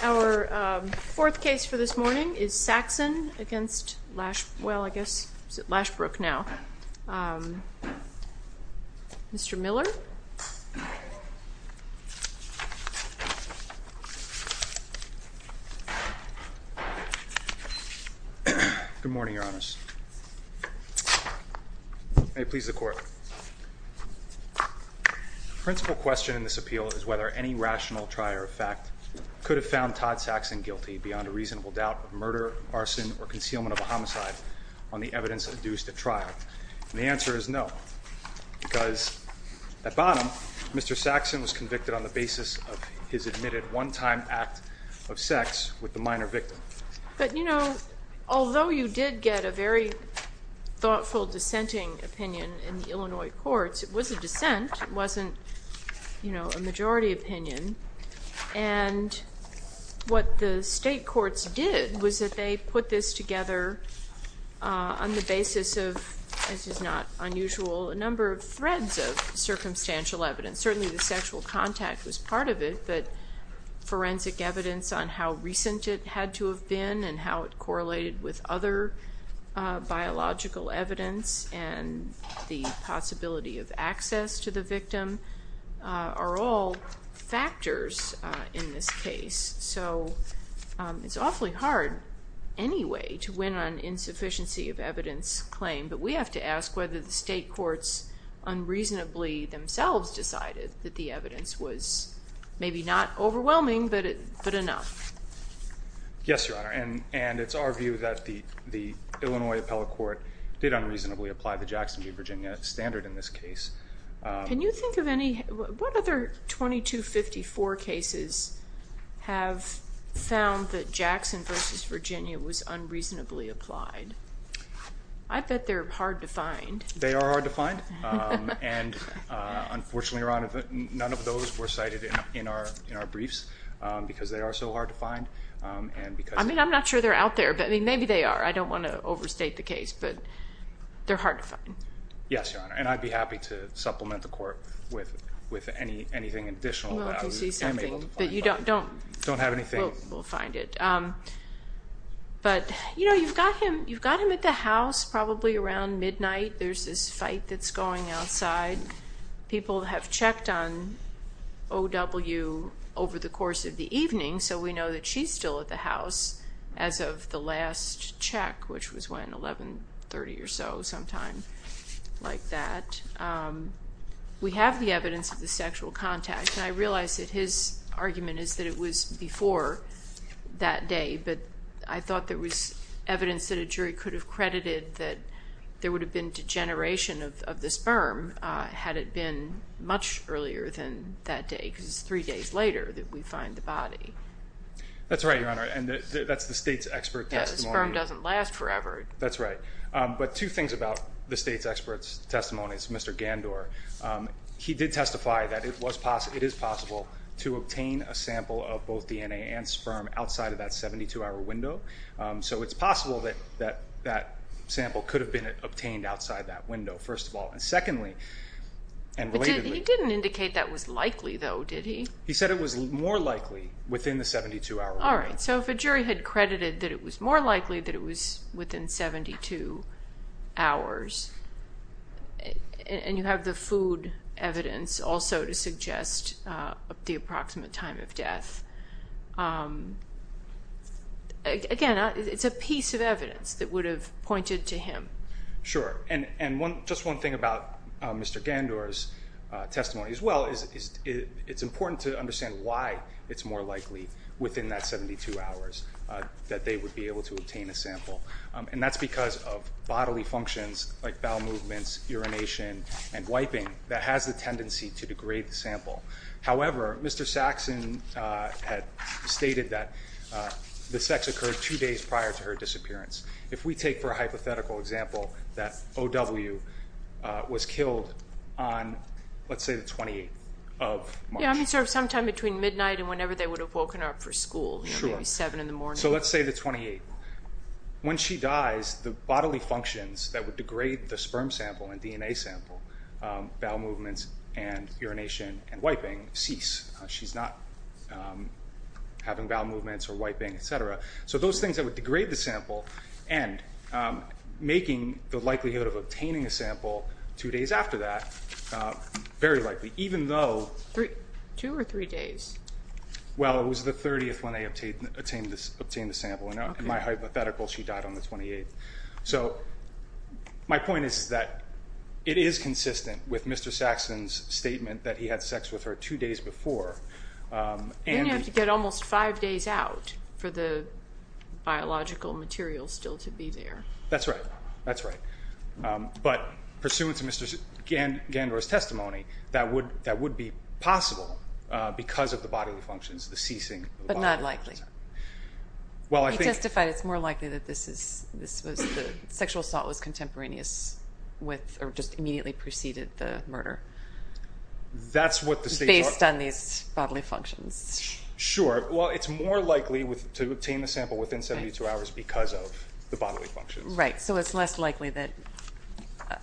Our fourth case for this morning is Saxon v. Lashbrook, Mr. Miller Good morning, your honors. May it please the court. The principal question in this appeal is whether any rational trier of fact could have found Todd Saxon guilty beyond a reasonable doubt of murder, arson, or concealment of a homicide on the evidence induced at trial. And the answer is no, because at bottom, Mr. Saxon was convicted on the basis of his admitted one-time act of sex with the minor victim. But, you know, although you did get a very thoughtful dissenting opinion in the Illinois courts, it was a dissent. It wasn't, you know, a majority opinion. And what the state courts did was that they put this together on the basis of, this is not unusual, a number of threads of circumstantial evidence. Certainly the sexual contact was part of it, but forensic evidence on how recent it had to have been and how it correlated with other biological evidence and the possibility of access to the victim are all factors in this case. So it's awfully hard anyway to win on insufficiency of evidence claim, but we have to ask whether the state courts unreasonably themselves decided that the evidence was maybe not overwhelming, but enough. Yes, Your Honor. And it's our view that the Illinois appellate court did unreasonably apply the Jackson v. Virginia standard in this case. Can you think of any, what other 2254 cases have found that Jackson v. Virginia was unreasonably applied? I bet they're hard to find. They are hard to find. And unfortunately, Your Honor, none of those were cited in our report. I mean, I'm not sure they're out there, but maybe they are. I don't want to overstate the case, but they're hard to find. Yes, Your Honor. And I'd be happy to supplement the court with anything additional that I am able to find. Well, if you see something, but you don't have anything, we'll find it. But, you know, you've got him at the house probably around midnight. There's this fight that's going on outside. People have checked on O.W. over the course of the evening, so we know that she's still at the house as of the last check, which was when, 1130 or so, sometime like that. We have the evidence of the sexual contact, and I realize that his argument is that it was before that day, but I thought there was evidence that a jury could have credited that there would have been degeneration of the sperm had it been much earlier than that day, because it's three days later that we find the body. That's right, Your Honor, and that's the state's expert testimony. Yes, the sperm doesn't last forever. That's right. But two things about the state's expert's testimony, it's Mr. Gandor. He did testify that it is possible to obtain a sample of both DNA and sperm outside of that 72-hour window, so it's possible that that sample could have been obtained outside that window, first of all. Secondly, and relatedly... He didn't indicate that was likely, though, did he? He said it was more likely within the 72-hour window. All right, so if a jury had credited that it was more likely that it was within 72 hours, and you have the food evidence also to suggest the approximate time of death, that's not a... Again, it's a piece of evidence that would have pointed to him. Sure, and just one thing about Mr. Gandor's testimony as well is it's important to understand why it's more likely within that 72 hours that they would be able to obtain a sample, and that's because of bodily functions like bowel movements, urination, and wiping that has the tendency to degrade the sample. However, Mr. Saxon had stated that the sex occurred two days prior to her disappearance. If we take for a hypothetical example that O.W. was killed on, let's say, the 28th of March. Yeah, I mean, sort of sometime between midnight and whenever they would have woken her up for school, maybe 7 in the morning. So let's say the 28th. When she dies, the bodily functions that would degrade the sperm sample and DNA sample, bowel movements and urination and wiping, cease. She's not having bowel movements or wiping, etc. So those things that would degrade the sample and making the likelihood of obtaining a sample two days after that very likely, even though... Two or three days? Well, it was the 30th when they obtained the sample. In my hypothetical, she died on the 28th. So my point is that it is consistent with Mr. Saxon's statement that he had sex with her two days before. And you have to get almost five days out for the biological material still to be there. That's right. That's right. But pursuant to Mr. Gandora's testimony, that would be possible because of the bodily functions, the ceasing of the bodily functions. But not likely. Well, I think... He testified it's more likely that this was, the sexual assault was contemporaneous with or just immediately preceded the murder. That's what the state... Based on these bodily functions. Sure. Well, it's more likely to obtain the sample within 72 hours because of the bodily functions. Right. So it's less likely that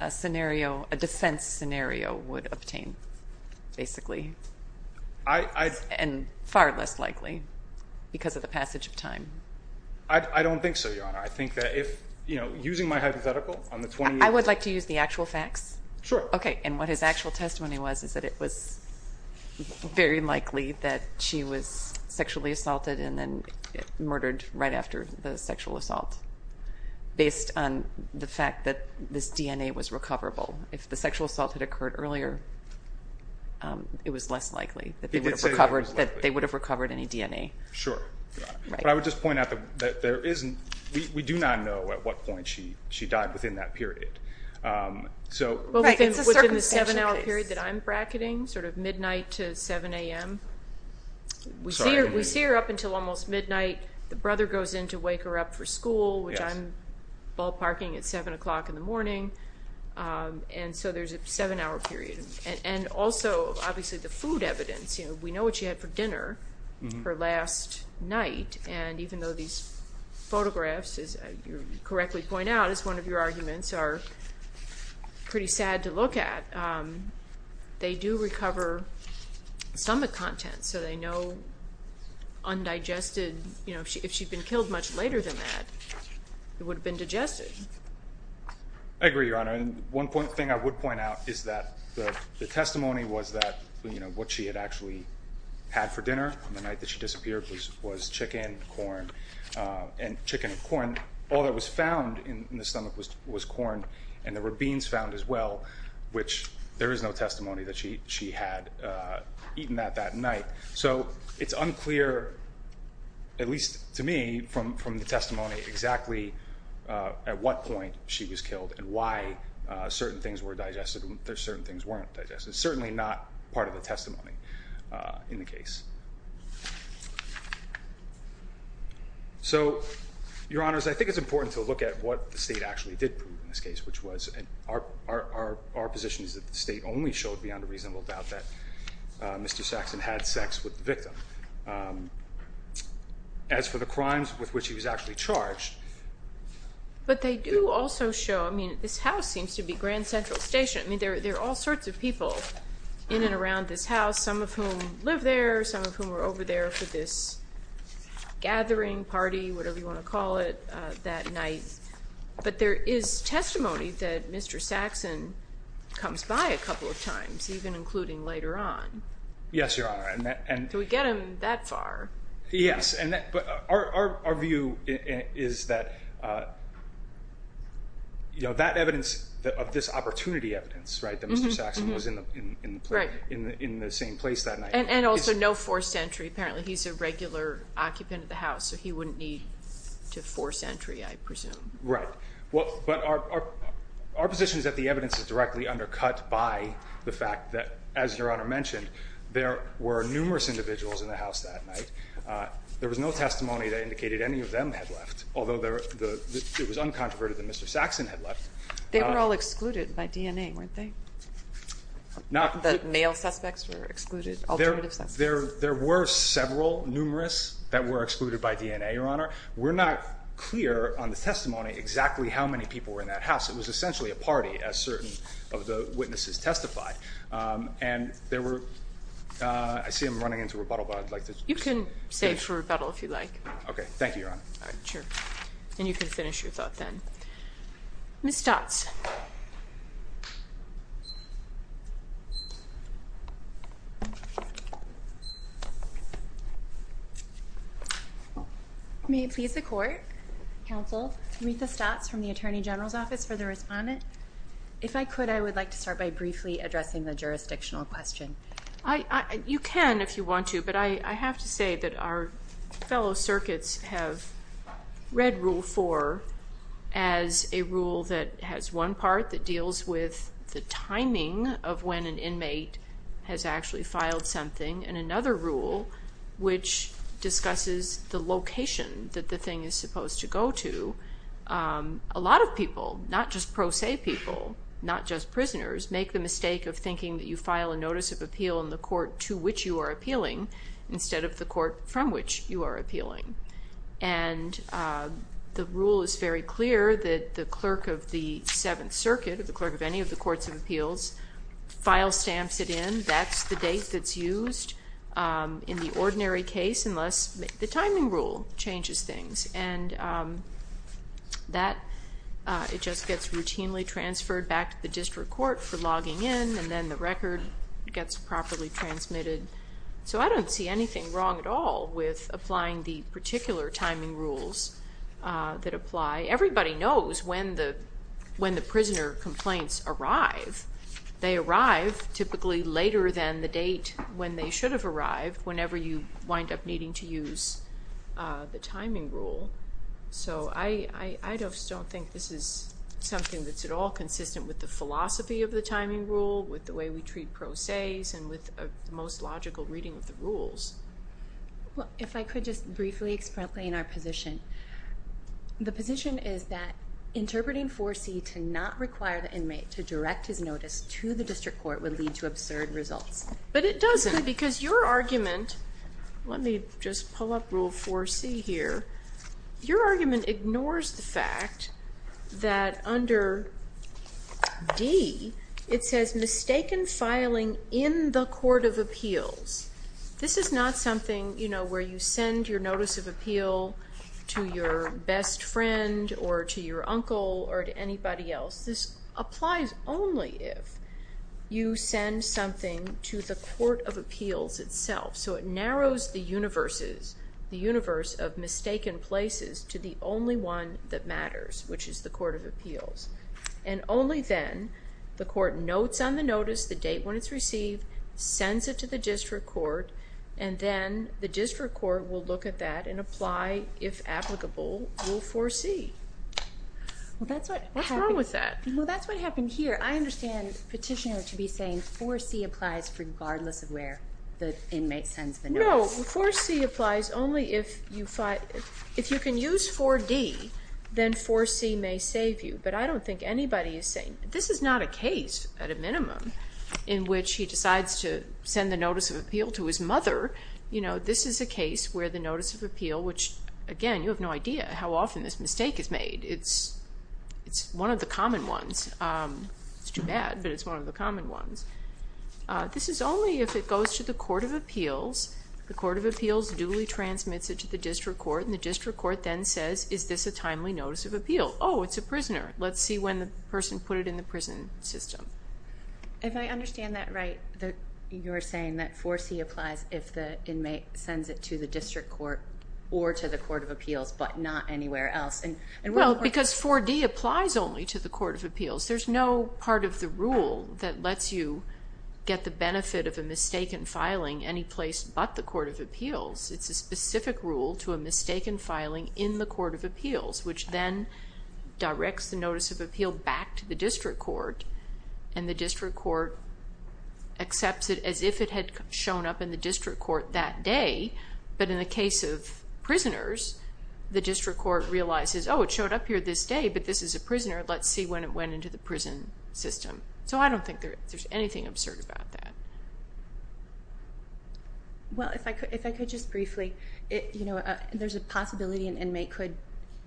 a scenario, a defense scenario would obtain, basically. And far less likely because of the passage of time. I don't think so, Your Honor. I think that if, you know, using my hypothetical on the 28th... I would like to use the actual facts. Sure. Okay. And what his actual testimony was, is that it was very likely that she was sexually assaulted and then murdered right after the sexual assault based on the fact that this DNA was recoverable. If the sexual assault had occurred earlier, it was less likely that they would have recovered any DNA. Sure. But I would just point out that there isn't, we do not know at what point she died within that period. Right. It's a circumstantial case. Within the seven-hour period that I'm bracketing, sort of midnight to 7 a.m., we see her up until almost midnight. The brother goes in to wake her up for school, which I'm ballparking at 7 o'clock in the morning. And so there's a seven-hour period. And also, obviously, the food evidence, you know, we know what she had for dinner her last night. And even though these photographs, as you correctly point out, is one of your arguments, are pretty sad to look at. They do recover stomach content. So they know undigested, you know, if she'd been killed much later than that, it would have been digested. I agree, Your Honor. And one point, thing I would point out is that the testimony was that, you know, what she had actually had for dinner on the night that she disappeared was chicken, corn. And chicken and corn, all that was found in the stomach was corn. And there were beans found as well, which there is no testimony that she had eaten at that night. So it's unclear, at least to me, from the testimony, exactly at what point she was killed and why certain things were digested and certain things weren't digested. Certainly not part of the testimony in the case. So, Your Honors, I think it's important to look at what the state actually did prove in this case, which was our position is that the state only showed beyond a reasonable doubt that Mr. Saxon had sex with the victim. As for the crimes with which he was actually charged. But they do also show, I mean, this house seems to be Grand Central Station. I mean, there are all sorts of people in and around this house, some of whom live there, some of whom were over there for this gathering, party, whatever you want to call it, that night. But there is testimony that Mr. Saxon comes by a couple of times, even including later on. Yes, Your Honor. Do we get him that far? Yes, but our view is that, you know, that evidence of this opportunity evidence, right, that Mr. Saxon was in the same place that night. And also no forced entry. Apparently he's a regular occupant of the house, so he wouldn't need to force entry, I presume. Right. But our position is that the evidence is directly undercut by the fact that, as that night, there was no testimony that indicated any of them had left, although it was uncontroverted that Mr. Saxon had left. They were all excluded by DNA, weren't they? The male suspects were excluded? Alternative suspects? There were several, numerous, that were excluded by DNA, Your Honor. We're not clear on the testimony exactly how many people were in that house. It was essentially a party, as You can save for rebuttal if you'd like. Okay, thank you, Your Honor. All right, sure. And you can finish your thought then. Ms. Stotz. May it please the Court, Counsel, Maritha Stotz from the Attorney General's Office for the Respondent. If I could, I would like to start by briefly addressing the jurisdictional question. You can if you want to, but I have to say that our fellow circuits have read Rule 4 as a rule that has one part that deals with the timing of when an inmate has actually filed something, and another rule which discusses the location that the thing is supposed to go to. A lot of people, not just pro se people, not just prisoners, make the mistake of thinking that you file a notice of appeal in the court to which you are appealing instead of the court from which you are appealing. And the rule is very clear that the clerk of the Seventh Circuit, or the clerk of any of the courts of appeals, file stamps it in. That's the date that's used in the ordinary case unless the timing rule changes things. And that, it just gets routinely transferred back to the district court for logging in, and then the record gets properly transmitted. So I don't see anything wrong at all with applying the particular timing rules that apply. Everybody knows when the prisoner complaints arrive. They arrive typically later than the date when they should have arrived whenever you wind up needing to use the timing rule. So I just don't think this is something that's at all consistent with the philosophy of the timing rule, with the way we treat pro se's, and with the most logical reading of the rules. Well, if I could just briefly explain our position. The position is that interpreting 4C to not require the inmate to direct his notice to the district court would lead to absurd results. But it doesn't, because your argument, let me just pull up Rule 4C here, your argument ignores the fact that under D, it says mistaken filing in the court of appeals. This is not something, you know, where you send your notice of appeal to your best friend, or to your uncle, or to anybody else. This applies only if you send something to the court of appeals itself. So it narrows the universe of mistaken places to the only one that matters, which is the court of appeals. And only then, the court notes on the notice, the date when it's received, sends it to the district court, and then the district court will look at that and apply, if applicable, Rule 4C. What's wrong with that? Well, that's what happened here. I understand petitioner to be saying 4C applies regardless of where the inmate sends the notice. No, 4C applies only if you can use 4D, then 4C may save you. But I don't think anybody is saying, this is not a case, at a minimum, in which he decides to send the notice of appeal to his mother. You know, this is a case where the notice of appeal, which again, you have no idea how often this mistake is made. It's one of the common ones. It's only if it goes to the court of appeals, the court of appeals duly transmits it to the district court, and the district court then says, is this a timely notice of appeal? Oh, it's a prisoner. Let's see when the person put it in the prison system. If I understand that right, you're saying that 4C applies if the inmate sends it to the district court or to the court of appeals, but not anywhere else. Well, because 4D applies only to the court of appeals. There's no part of the rule that would benefit of a mistaken filing any place but the court of appeals. It's a specific rule to a mistaken filing in the court of appeals, which then directs the notice of appeal back to the district court, and the district court accepts it as if it had shown up in the district court that day. But in the case of prisoners, the district court realizes, oh, it showed up here this day, but this is a prisoner. Let's see when it Well, if I could just briefly, there's a possibility an inmate could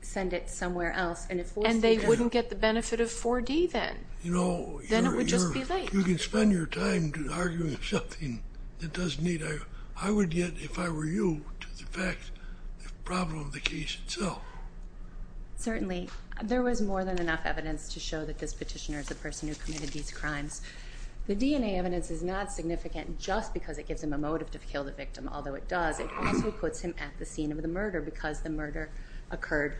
send it somewhere else. And they wouldn't get the benefit of 4D then? No. Then it would just be late. You can spend your time arguing something that doesn't need arguing. I would get, if I were you, to the fact of the problem of the case itself. Certainly. There was more than enough evidence to show that this petitioner is a person who DNA evidence is not significant just because it gives him a motive to kill the victim, although it does, it also puts him at the scene of the murder because the murder occurred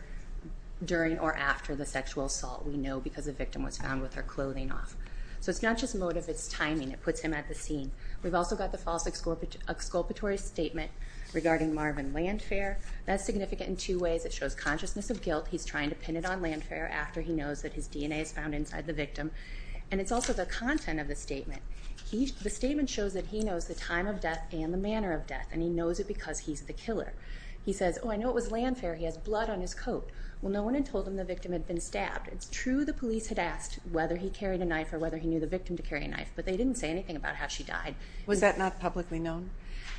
during or after the sexual assault. We know because the victim was found with her clothing off. So it's not just motive, it's timing. It puts him at the scene. We've also got the false exculpatory statement regarding Marvin Landfair. That's significant in two ways. It shows consciousness of guilt. He's trying to pin it on Landfair after he knows that his DNA is found inside the victim. And it's also the content of the statement. The statement shows that he knows the time of death and the manner of death, and he knows it because he's the killer. He says, oh, I know it was Landfair. He has blood on his coat. Well, no one had told him the victim had been stabbed. It's true the police had asked whether he carried a knife or whether he knew the victim to carry a knife, but they didn't say anything about how she died. Was that not publicly known?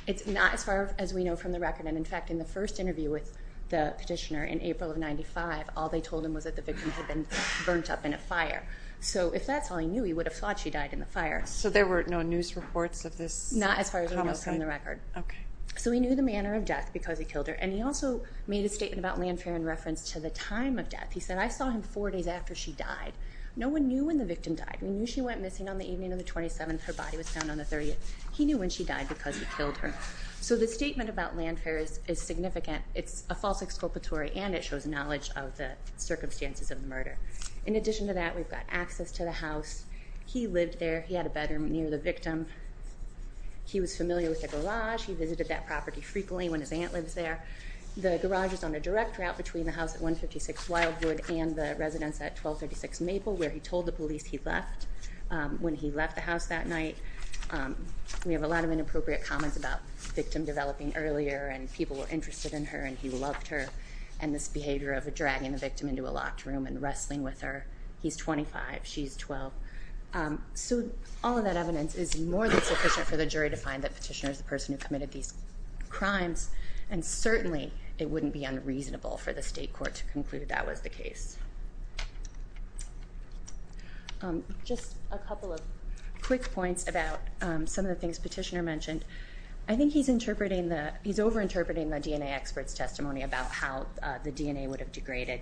It's not as far as we know from the record. And in fact, in the first interview with the victim had been burnt up in a fire. So if that's all he knew, he would have thought she died in the fire. So there were no news reports of this? Not as far as we know from the record. Okay. So he knew the manner of death because he killed her, and he also made a statement about Landfair in reference to the time of death. He said, I saw him four days after she died. No one knew when the victim died. We knew she went missing on the evening of the 27th. Her body was found on the 30th. He knew when she died because he killed her. So the statement about Landfair is significant. It's a false exculpatory, and it shows knowledge of the circumstances of the murder. In addition to that, we've got access to the house. He lived there. He had a bedroom near the victim. He was familiar with the garage. He visited that property frequently when his aunt lives there. The garage is on a direct route between the house at 156 Wildwood and the residence at 1236 Maple, where he told the police he left when he left the house that night. We have a lot of inappropriate comments about the victim developing earlier, and people were interested in her, and he loved her, and this behavior of dragging the victim into a locked room and wrestling with her. He's 25. She's 12. So all of that evidence is more than sufficient for the jury to find that Petitioner is the person who committed these crimes, and certainly it wouldn't be unreasonable for the state court to conclude that was the case. Just a couple of quick points about some of the things Petitioner mentioned. I think he's over-interpreting the DNA expert's testimony about how the DNA would have degraded.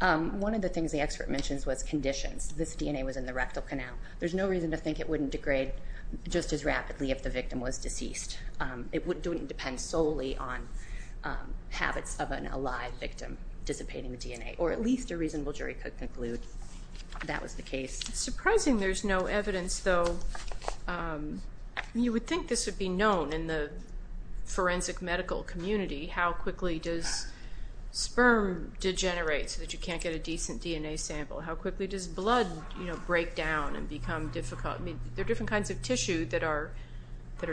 One of the things the expert mentions was conditions. This DNA was in the rectal canal. There's no reason to think it wouldn't degrade just as rapidly if the victim was deceased. It wouldn't depend solely on habits of an alive victim dissipating the DNA, or at least a reasonable jury could conclude that was the case. It's surprising there's no evidence, though. You would think this would be known in the forensic medical community. How quickly does sperm degenerate so that you can't get a decent DNA sample? How quickly does blood break down and become difficult? There are different kinds of tissue that are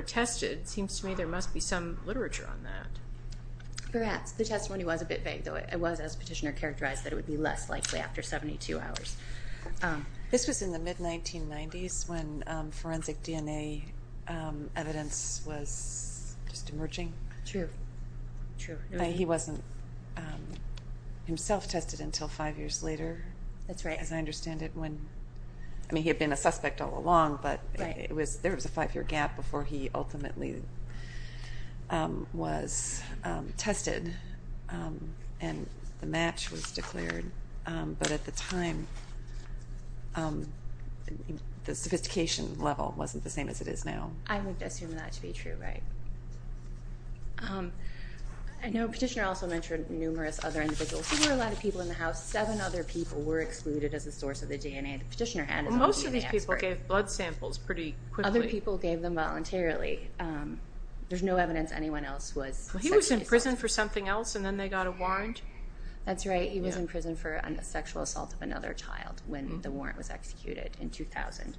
tested. It seems to me there must be some literature on that. Perhaps. The testimony was a bit vague, though. It was, as Petitioner characterized, that after 72 hours. This was in the mid-1990s when forensic DNA evidence was just emerging. True. He wasn't himself tested until five years later. That's right. As I understand it. He had been a suspect all along, but there was a five-year gap before he ultimately was tested and the match was declared. But at the time, the sophistication level wasn't the same as it is now. I would assume that to be true, right. I know Petitioner also mentioned numerous other individuals. There were a lot of people in the house. Seven other people were excluded as a source of the DNA that Petitioner had. Most of these people gave blood samples pretty quickly. Most people gave them voluntarily. There's no evidence anyone else was sexually assaulted. He was in prison for something else and then they got a warrant. That's right. He was in prison for sexual assault of another child when the warrant was executed in 2000.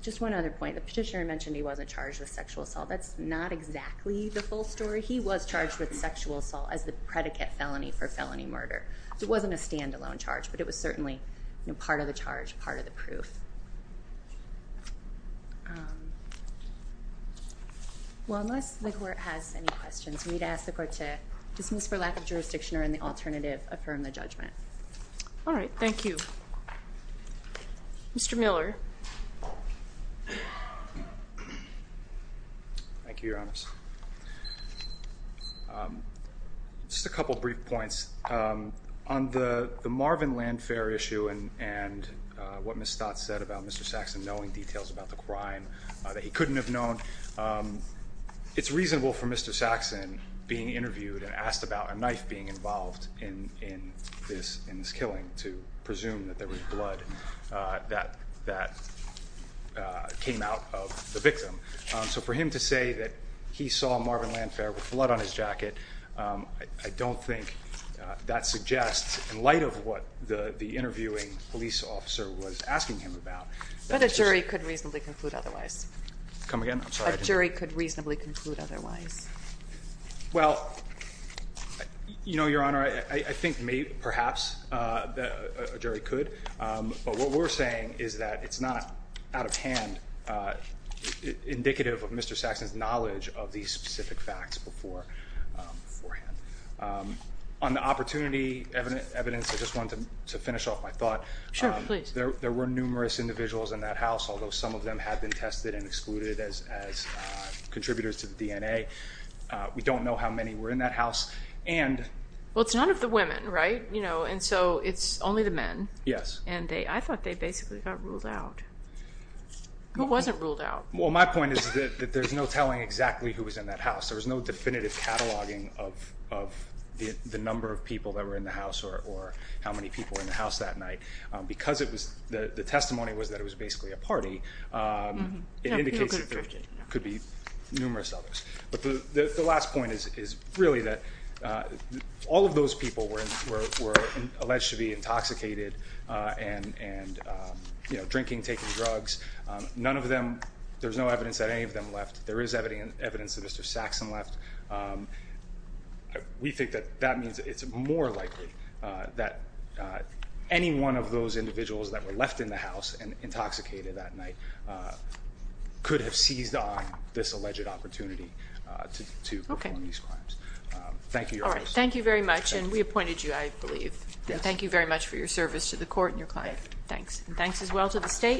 Just one other point. Petitioner mentioned he wasn't charged with sexual assault. That's not exactly the full story. He was charged with sexual assault as the predicate felony for felony murder. It wasn't a standalone charge, but it was certainly part of the charge, part of the proof. Well, unless the court has any questions, we'd ask the court to dismiss for lack of jurisdiction or in the alternative, affirm the judgment. All right. Thank you. Mr. Miller. Thank you, Your Honor. Just a couple of brief points. On the Marvin Landfair issue and what Ms. Stott said about Mr. Saxon knowing details about the crime that he couldn't have known, it's reasonable for Mr. Saxon being interviewed and asked about a knife being involved in this killing to presume that there was blood that came out of the victim. So for him to say that he saw Marvin Landfair with blood on his jacket, I don't think that suggests, in light of what the interviewing police officer was asking him about... But a jury could reasonably conclude otherwise. Come again? I'm sorry. A jury could reasonably conclude otherwise. Well, you know, Your Honor, I think perhaps a jury could. But what we're saying is that it's not out of hand indicative of Mr. Saxon's knowledge of these specific facts beforehand. On the opportunity evidence, I just wanted to finish off my thought. Sure. Please. There were numerous individuals in that house, although some of them had been tested and excluded as contributors to the DNA. We don't know how many were in that house. Well, it's none of the women, right? And so it's only the men. Yes. And I thought they basically got ruled out. Who wasn't ruled out? Well, my point is that there's no telling exactly who was in that house. There was no definitive cataloging of the number of people that were in the house or how many people were in the house that night. Because the testimony was that it was basically a party, it indicates that there could be numerous others. But the last point is really that all of those people were alleged to be intoxicated and drinking, taking drugs. None of them, there's no evidence that any of them left. There is evidence that Mr. Saxon left. We think that that means it's more likely that any one of those individuals that were left in the house and intoxicated that night could have seized on this alleged opportunity to perform these crimes. Thank you. All right. Thank you very much. And we appointed you, I believe. Thank you very much for your service to the court and your client. Thanks. Thanks as well to the state.